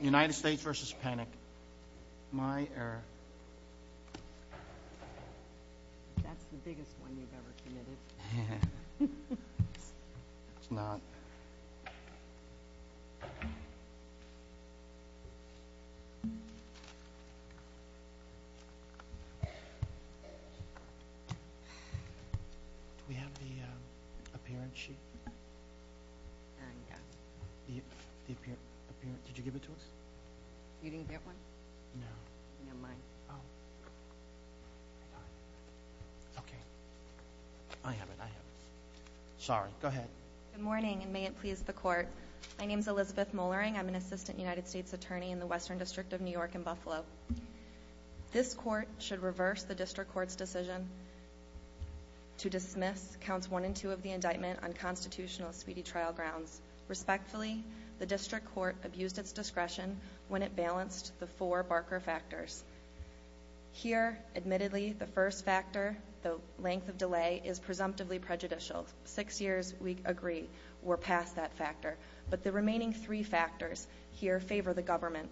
United States v. Panic My error That's the biggest one you've ever committed It's not Do we have the appearance sheet? There you go Did you give it to us? You didn't get one? No Never mind Oh Okay I have it, I have it Sorry, go ahead Good morning and may it please the court My name is Elizabeth Mollering, I'm an assistant United States attorney in the Western District of New York in Buffalo This court should reverse the district court's decision To dismiss counts one and two of the indictment on constitutional speedy trial grounds Respectfully, the district court abused its discretion when it balanced the four Barker factors Here, admittedly, the first factor, the length of delay, is presumptively prejudicial Six years, we agree, were past that factor But the remaining three factors here favor the government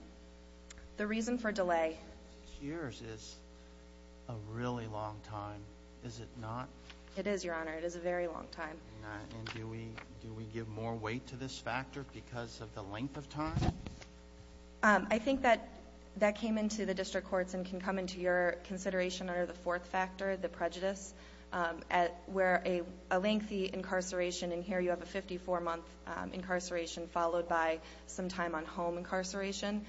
The reason for delay Six years is a really long time, is it not? It is, your honor, it is a very long time And do we give more weight to this factor because of the length of time? I think that came into the district courts and can come into your consideration under the fourth factor, the prejudice Where a lengthy incarceration, and here you have a 54 month incarceration followed by some time on home incarceration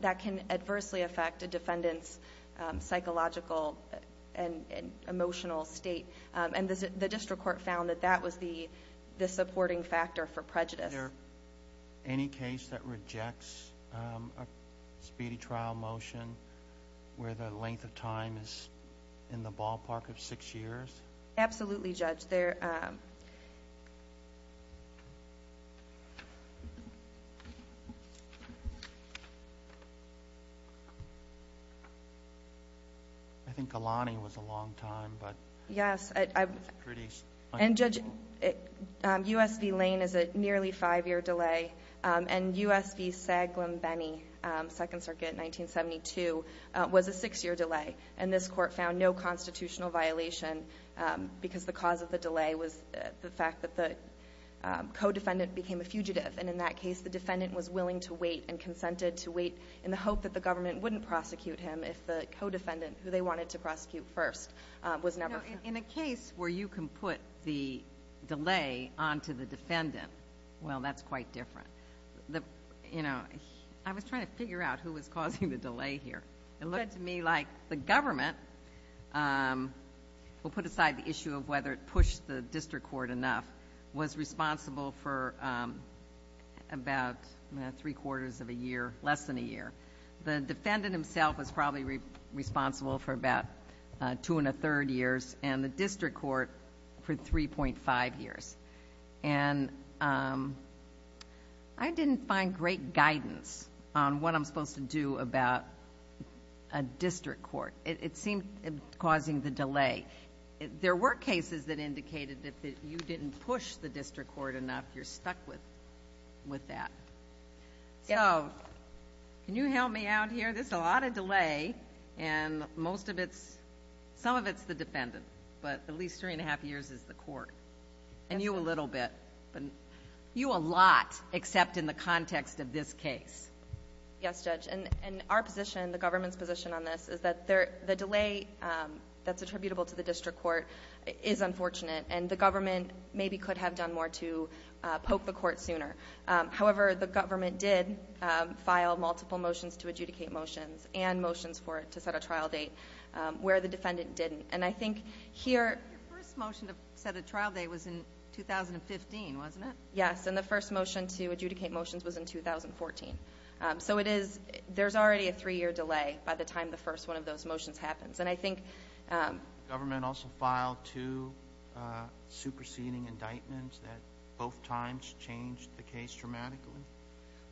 That can adversely affect a defendant's psychological and emotional state And the district court found that that was the supporting factor for prejudice Is there any case that rejects a speedy trial motion where the length of time is in the ballpark of six years? Absolutely, judge I think Alani was a long time, but it's pretty unusual And judge, USV Lane is a nearly five year delay And USV Saglum-Benny, Second Circuit, 1972, was a six year delay And this court found no constitutional violation because the cause of the delay was the fact that the co-defendant became a fugitive And in that case the defendant was willing to wait and consented to wait in the hope that the government wouldn't prosecute him If the co-defendant who they wanted to prosecute first was never found In a case where you can put the delay onto the defendant, well that's quite different I was trying to figure out who was causing the delay here It looked to me like the government, we'll put aside the issue of whether it pushed the district court enough The district court was responsible for about three quarters of a year, less than a year The defendant himself was probably responsible for about two and a third years And the district court for 3.5 years And I didn't find great guidance on what I'm supposed to do about a district court It seemed causing the delay There were cases that indicated that you didn't push the district court enough, you're stuck with that So, can you help me out here, there's a lot of delay And most of it's, some of it's the defendant, but at least three and a half years is the court And you a little bit, you a lot, except in the context of this case Yes judge, and our position, the government's position on this Is that the delay that's attributable to the district court is unfortunate And the government maybe could have done more to poke the court sooner However, the government did file multiple motions to adjudicate motions And motions for it to set a trial date, where the defendant didn't And I think here Your first motion to set a trial date was in 2015, wasn't it? Yes, and the first motion to adjudicate motions was in 2014 So it is, there's already a three year delay by the time the first one of those motions happens And I think Government also filed two superseding indictments that both times changed the case dramatically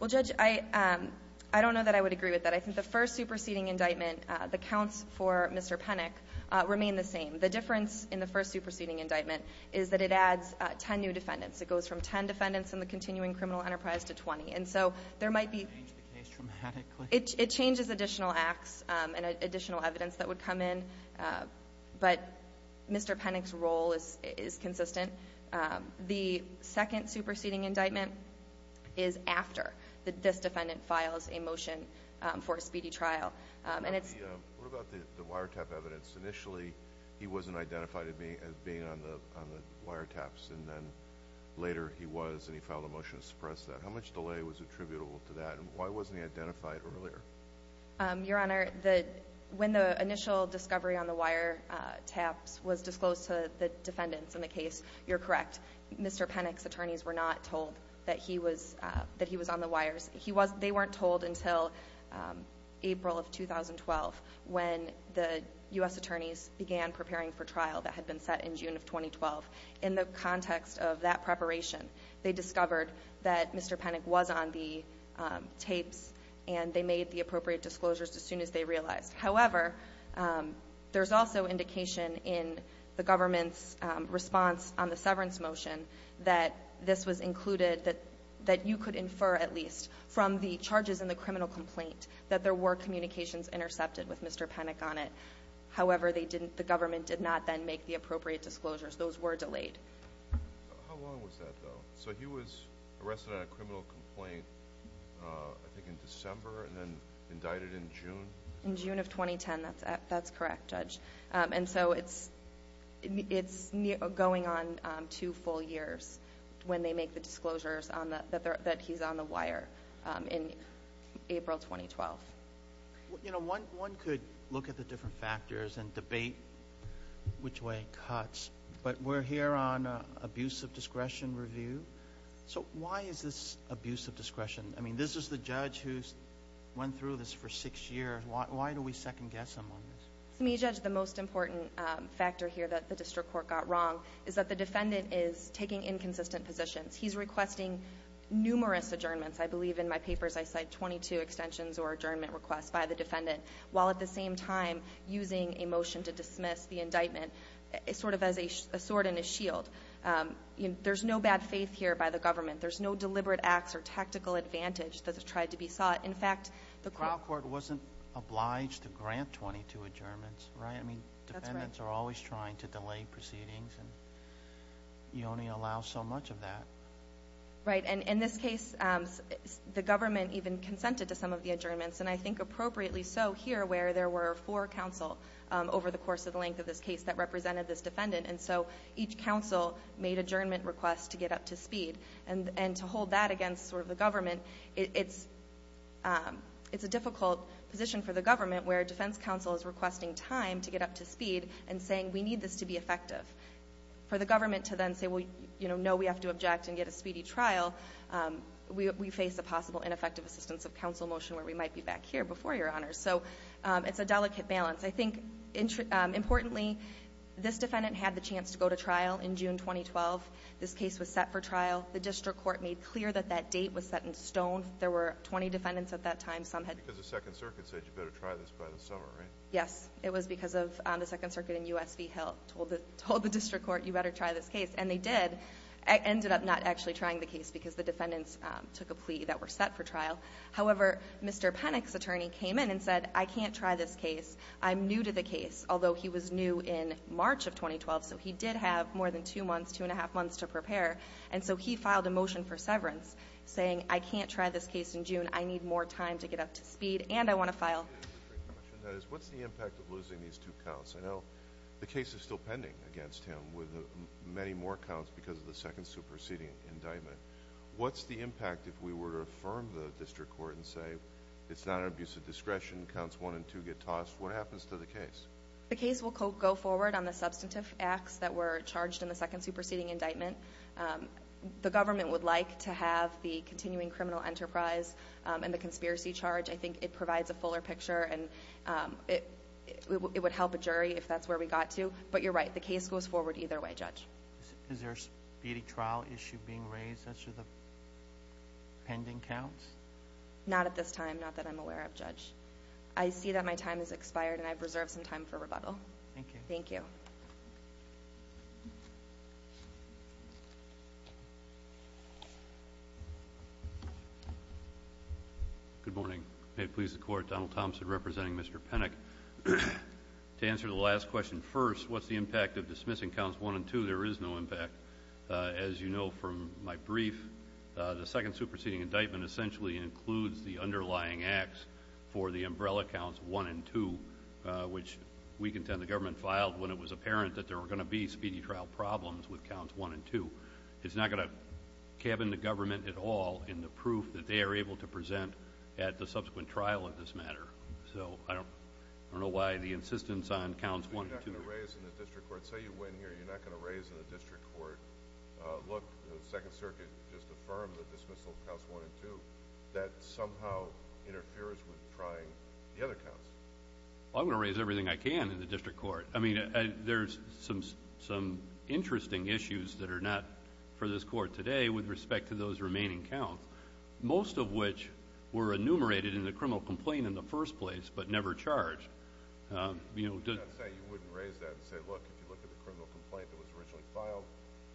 Well judge, I don't know that I would agree with that I think the first superseding indictment, the counts for Mr. Penick remain the same The difference in the first superseding indictment is that it adds ten new defendants It goes from ten defendants in the continuing criminal enterprise to twenty And so there might be It changed the case dramatically? It changes additional acts and additional evidence that would come in But Mr. Penick's role is consistent The second superseding indictment is after this defendant files a motion for a speedy trial What about the wiretap evidence? Initially he wasn't identified as being on the wiretaps And then later he was and he filed a motion to suppress that How much delay was attributable to that? And why wasn't he identified earlier? Your Honor, when the initial discovery on the wiretaps was disclosed to the defendants in the case You're correct Mr. Penick's attorneys were not told that he was on the wires They weren't told until April of 2012 When the U.S. attorneys began preparing for trial that had been set in June of 2012 In the context of that preparation They discovered that Mr. Penick was on the tapes And they made the appropriate disclosures as soon as they realized However, there's also indication in the government's response on the severance motion That this was included, that you could infer at least From the charges in the criminal complaint That there were communications intercepted with Mr. Penick on it However, the government did not then make the appropriate disclosures Those were delayed How long was that though? So he was arrested on a criminal complaint I think in December and then indicted in June? In June of 2010, that's correct, Judge And so it's going on two full years When they make the disclosures that he's on the wire In April 2012 You know, one could look at the different factors and debate which way it cuts But we're here on an abuse of discretion review So why is this abuse of discretion? I mean, this is the judge who's went through this for six years Why do we second-guess him on this? To me, Judge, the most important factor here that the district court got wrong Is that the defendant is taking inconsistent positions He's requesting numerous adjournments I believe in my papers I cite 22 extensions or adjournment requests by the defendant While at the same time using a motion to dismiss the indictment Sort of as a sword and a shield There's no bad faith here by the government There's no deliberate acts or tactical advantage that's tried to be sought The trial court wasn't obliged to grant 22 adjournments, right? I mean, defendants are always trying to delay proceedings And you only allow so much of that Right, and in this case, the government even consented to some of the adjournments And I think appropriately so here where there were four counsel Over the course of the length of this case that represented this defendant And so each counsel made adjournment requests to get up to speed And to hold that against sort of the government It's a difficult position for the government Where defense counsel is requesting time to get up to speed And saying we need this to be effective For the government to then say, well, no, we have to object and get a speedy trial We face a possible ineffective assistance of counsel motion Where we might be back here before your honors So it's a delicate balance I think importantly, this defendant had the chance to go to trial in June 2012 This case was set for trial The district court made clear that that date was set in stone There were 20 defendants at that time Because the second circuit said you better try this by the summer, right? Yes, it was because the second circuit in USV Hill Told the district court you better try this case And they did, ended up not actually trying the case Because the defendants took a plea that we're set for trial However, Mr. Penick's attorney came in and said, I can't try this case I'm new to the case, although he was new in March of 2012 So he did have more than two months, two and a half months to prepare And so he filed a motion for severance Saying I can't try this case in June I need more time to get up to speed And I want to file What's the impact of losing these two counts? I know the case is still pending against him With many more counts because of the second superseding indictment What's the impact if we were to affirm the district court And say it's not an abuse of discretion Counts one and two get tossed What happens to the case? The case will go forward on the substantive acts That were charged in the second superseding indictment The government would like to have the continuing criminal enterprise And the conspiracy charge I think it provides a fuller picture And it would help a jury if that's where we got to But you're right, the case goes forward either way, Judge Is there a speedy trial issue being raised as to the pending counts? Not at this time, not that I'm aware of, Judge I see that my time has expired And I've reserved some time for rebuttal Thank you Good morning May it please the court Donald Thompson representing Mr. Penick To answer the last question first What's the impact of dismissing counts one and two? There is no impact As you know from my brief The second superseding indictment essentially includes The underlying acts for the umbrella counts one and two Which we contend the government filed When it was apparent that there were going to be Speedy trial problems with counts one and two It's not going to cabin the government at all In the proof that they are able to present At the subsequent trial of this matter So I don't know why the insistence on counts one and two You're not going to raise in the district court Say you win here, you're not going to raise in the district court Look, the second circuit just affirmed the dismissal of counts one and two That somehow interferes with trying the other counts I'm going to raise everything I can in the district court I mean, there's some interesting issues That are not for this court today With respect to those remaining counts Most of which were enumerated in the criminal complaint In the first place, but never charged I'm not saying you wouldn't raise that Say look, if you look at the criminal complaint That was originally filed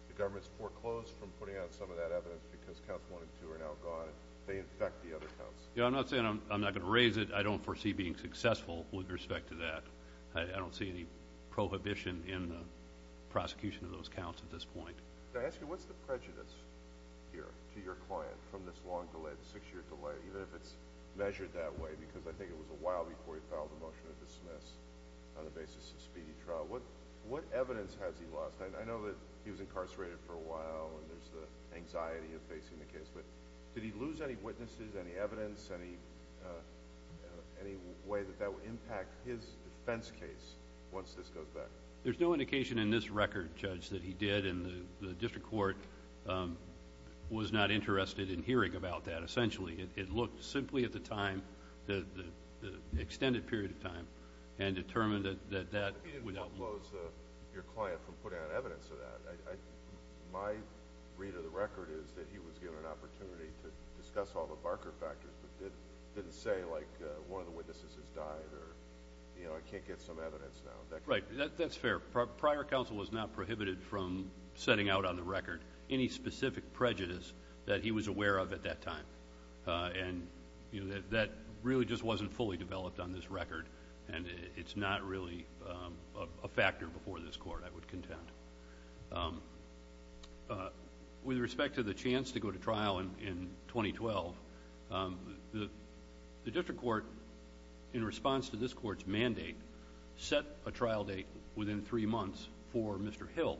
The government's foreclosed from putting out some of that evidence Because counts one and two are now gone They infect the other counts Yeah, I'm not saying I'm not going to raise it I don't foresee being successful with respect to that I don't see any prohibition in the prosecution of those counts at this point Can I ask you, what's the prejudice here to your client From this long delay, this six year delay Even if it's measured that way Because I think it was a while before he filed a motion to dismiss On the basis of speedy trial What evidence has he lost? I know that he was incarcerated for a while And there's the anxiety of facing the case But did he lose any witnesses, any evidence Any way that that would impact his defense case Once this goes back? There's no indication in this record, Judge That he did, and the district court Was not interested in hearing about that, essentially It looked simply at the time The extended period of time And determined that that You didn't foreclose your client from putting out evidence of that My read of the record is that he was given an opportunity To discuss all the Barker factors But didn't say, like, one of the witnesses has died Or, you know, I can't get some evidence now Right, that's fair Prior counsel was not prohibited from Setting out on the record Any specific prejudice That he was aware of at that time And that really just wasn't fully developed on this record And it's not really a factor before this court, I would contend With respect to the chance to go to trial in 2012 The district court, in response to this court's mandate Set a trial date within three months For Mr. Hill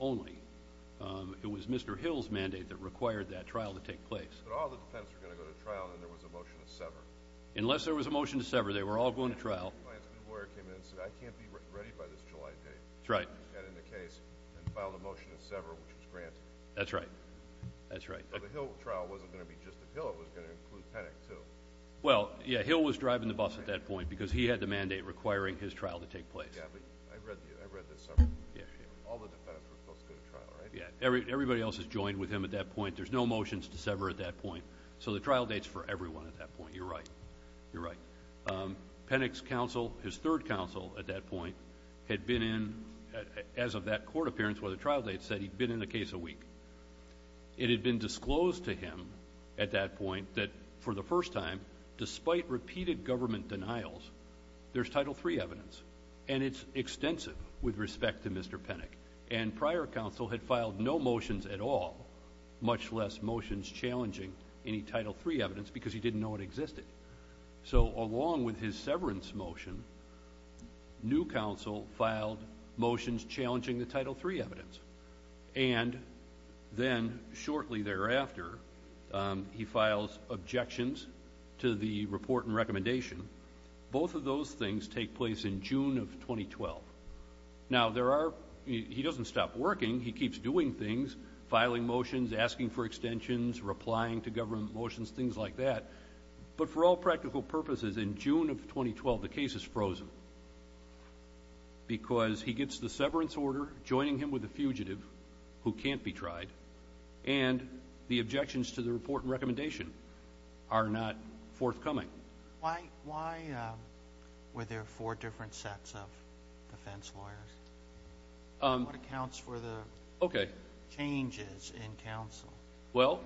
only It was Mr. Hill's mandate that required that trial to take place But all the defendants were going to go to trial And there was a motion to sever Unless there was a motion to sever, they were all going to trial The client's lawyer came in and said I can't be ready by this July date That's right And filed a motion to sever, which was granted That's right, that's right But the Hill trial wasn't going to be just the Hill It was going to include Penick, too Well, yeah, Hill was driving the bus at that point Because he had the mandate requiring his trial to take place Yeah, but I read that several times All the defendants were supposed to go to trial, right? Yeah, everybody else is joined with him at that point There's no motions to sever at that point So the trial date's for everyone at that point You're right, you're right Penick's counsel, his third counsel at that point Had been in, as of that court appearance where the trial date said He'd been in a case a week It had been disclosed to him at that point That for the first time, despite repeated government denials There's Title III evidence And it's extensive with respect to Mr. Penick And prior counsel had filed no motions at all Much less motions challenging any Title III evidence Because he didn't know it existed So along with his severance motion New counsel filed motions challenging the Title III evidence And then, shortly thereafter He files objections to the report and recommendation Both of those things take place in June of 2012 Now, there are, he doesn't stop working He keeps doing things, filing motions, asking for extensions Replying to government motions, things like that But for all practical purposes, in June of 2012 The case is frozen Because he gets the severance order Joining him with a fugitive who can't be tried And the objections to the report and recommendation Are not forthcoming Why were there four different sets of defense lawyers? What accounts for the changes in counsel? Well,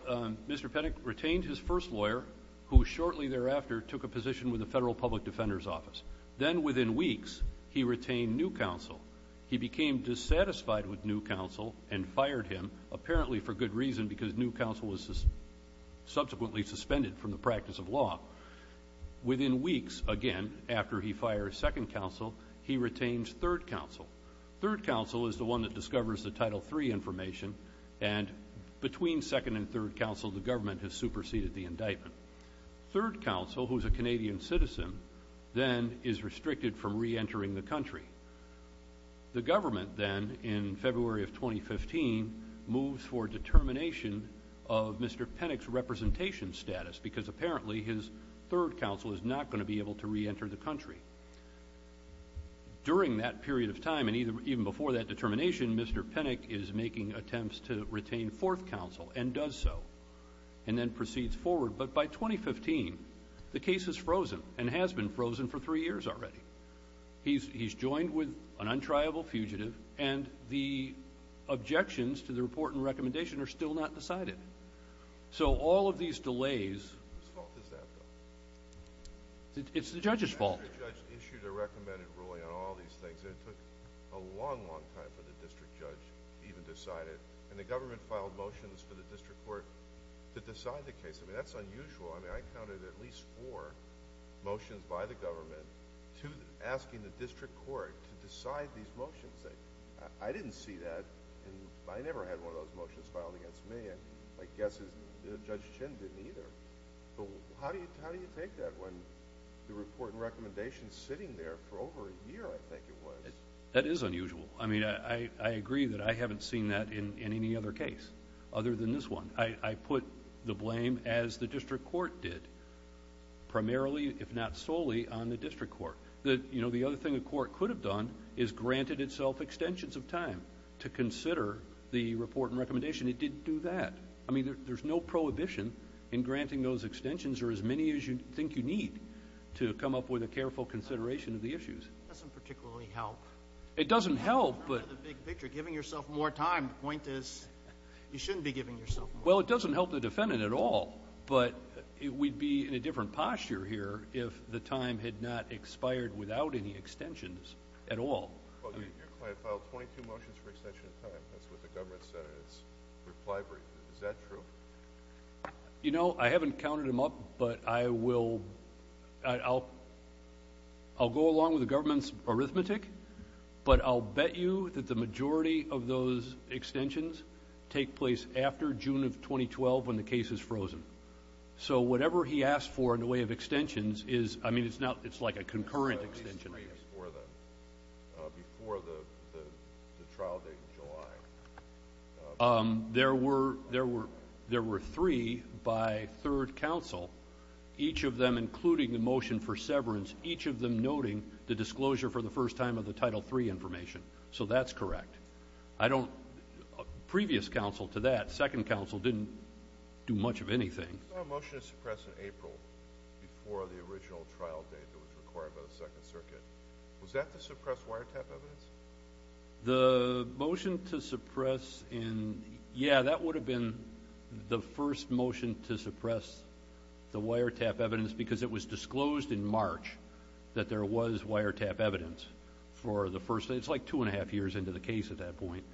Mr. Penick retained his first lawyer Who shortly thereafter took a position With the Federal Public Defender's Office Then, within weeks, he retained new counsel He became dissatisfied with new counsel And fired him, apparently for good reason Because new counsel was subsequently suspended From the practice of law Within weeks, again, after he fires second counsel He retains third counsel Third counsel is the one that discovers the Title III information And between second and third counsel The government has superseded the indictment Third counsel, who is a Canadian citizen Then is restricted from re-entering the country The government then, in February of 2015 Moves for determination of Mr. Penick's representation status Because apparently his third counsel Is not going to be able to re-enter the country During that period of time And even before that determination Mr. Penick is making attempts to retain fourth counsel And does so And then proceeds forward But by 2015, the case is frozen And has been frozen for three years already He's joined with an untriable fugitive And the objections to the report and recommendation Are still not decided So all of these delays Whose fault is that, though? It's the judge's fault The judge issued a recommended ruling on all these things And it took a long, long time for the district judge To even decide it And the government filed motions for the district court To decide the case I mean, that's unusual I mean, I counted at least four motions by the government Asking the district court to decide these motions I didn't see that And I never had one of those motions filed against me My guess is Judge Chin didn't either How do you take that When the report and recommendation is sitting there For over a year, I think it was That is unusual I mean, I agree that I haven't seen that in any other case Other than this one I put the blame, as the district court did Primarily, if not solely, on the district court You know, the other thing the court could have done Is granted itself extensions of time To consider the report and recommendation It didn't do that I mean, there's no prohibition in granting those extensions Or as many as you think you need To come up with a careful consideration of the issues It doesn't particularly help It doesn't help, but The big picture, giving yourself more time The point is, you shouldn't be giving yourself more time Well, it doesn't help the defendant at all But we'd be in a different posture here If the time had not expired without any extensions at all Well, your client filed 22 motions for extension of time That's what the government said in its reply brief Is that true? You know, I haven't counted them up But I will I'll go along with the government's arithmetic But I'll bet you that the majority of those extensions Take place after June of 2012, when the case is frozen So, whatever he asked for in the way of extensions I mean, it's like a concurrent extension There were three by third counsel Each of them, including the motion for severance Each of them noting the disclosure For the first time of the Title III information So that's correct I don't... Previous counsel to that Second counsel didn't do much of anything The motion to suppress in... Yeah, that would have been The first motion to suppress the wiretap evidence Because it was disclosed in March That there was wiretap evidence for the first... It's like two and a half years into the case at that point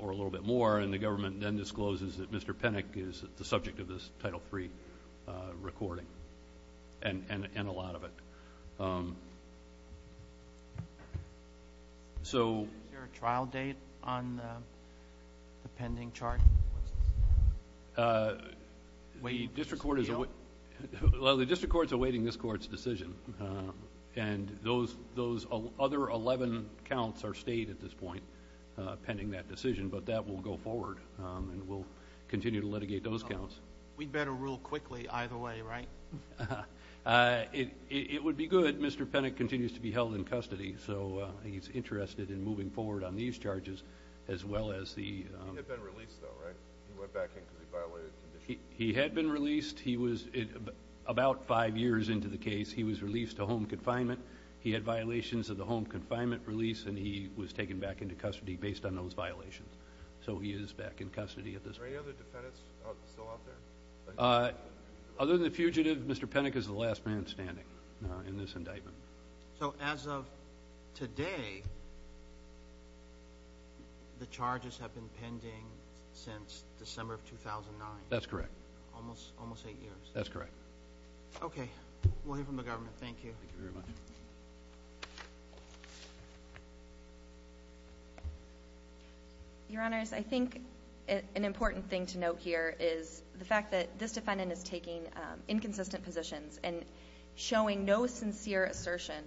Or a little bit more And the government then discloses that Mr. Penick Is the subject of this Title III recording And a lot of it So... Is there a trial date on the pending chart? What's this? The district court is... Well, the district court is awaiting this court's decision And those other 11 counts are state at this point Pending that decision But that will go forward And we'll continue to litigate those counts We'd better rule quickly either way, right? It would be good Mr. Penick continues to be held in custody So he's interested in moving forward on these charges As well as the... He was released, though, right? He went back in because he violated conditions He had been released He was... About five years into the case He was released to home confinement He had violations of the home confinement release And he was taken back into custody Based on those violations So he is back in custody at this point Are there any other defendants still out there? Other than the fugitive Mr. Penick is the last man standing In this indictment So as of today The charges have been pending Since December of 2009 That's correct Almost eight years That's correct Okay, we'll hear from the government Thank you Thank you very much Your Honors, I think An important thing to note here is The fact that this defendant is taking Inconsistent positions And showing no sincere assertion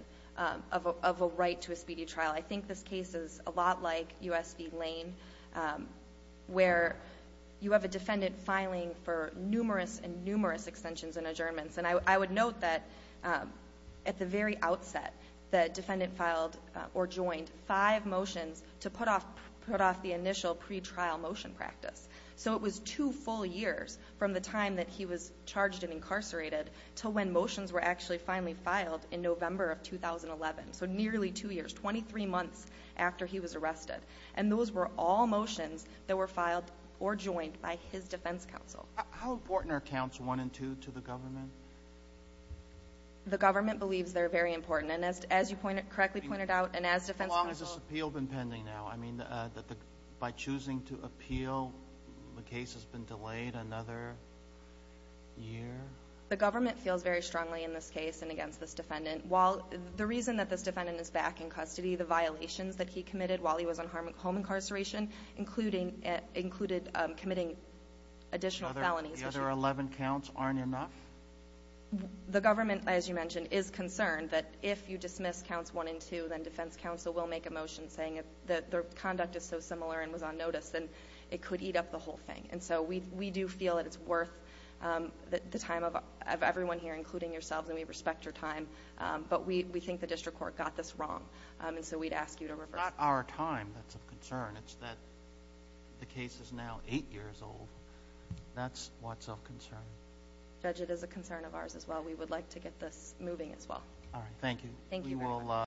Of a right to a speedy trial I think this case is a lot like U.S. v. Lane Where you have a defendant Filing for numerous and numerous Extensions and adjournments And I would note that At the very outset The defendant filed or joined Five motions to put off The initial pretrial motion practice So it was two full years From the time that he was Charged and incarcerated To when motions were actually Finally filed in November of 2011 So nearly two years Twenty-three months after he was arrested And those were all motions That were filed or joined By his defense counsel How important are counts 1 and 2 To the government? The government believes They're very important And as you correctly pointed out And as defense counsel How long has this appeal been pending now? I mean, by choosing to appeal The case has been delayed another year? The government feels very strongly In this case and against this defendant While the reason that this defendant Is back in custody The violations that he committed While he was on home incarceration Included committing additional felonies The other 11 counts aren't enough? The government, as you mentioned Is concerned that if you dismiss Counts 1 and 2 Then defense counsel will make a motion Saying that their conduct is so similar And was on notice Then it could eat up the whole thing And so we do feel that it's worth The time of everyone here Including yourselves And we respect your time But we think the district court Got this wrong And so we'd ask you to reverse It's not our time that's of concern It's that the case is now 8 years old That's what's of concern Judge, it is a concern of ours as well We would like to get this moving as well All right, thank you Thank you very much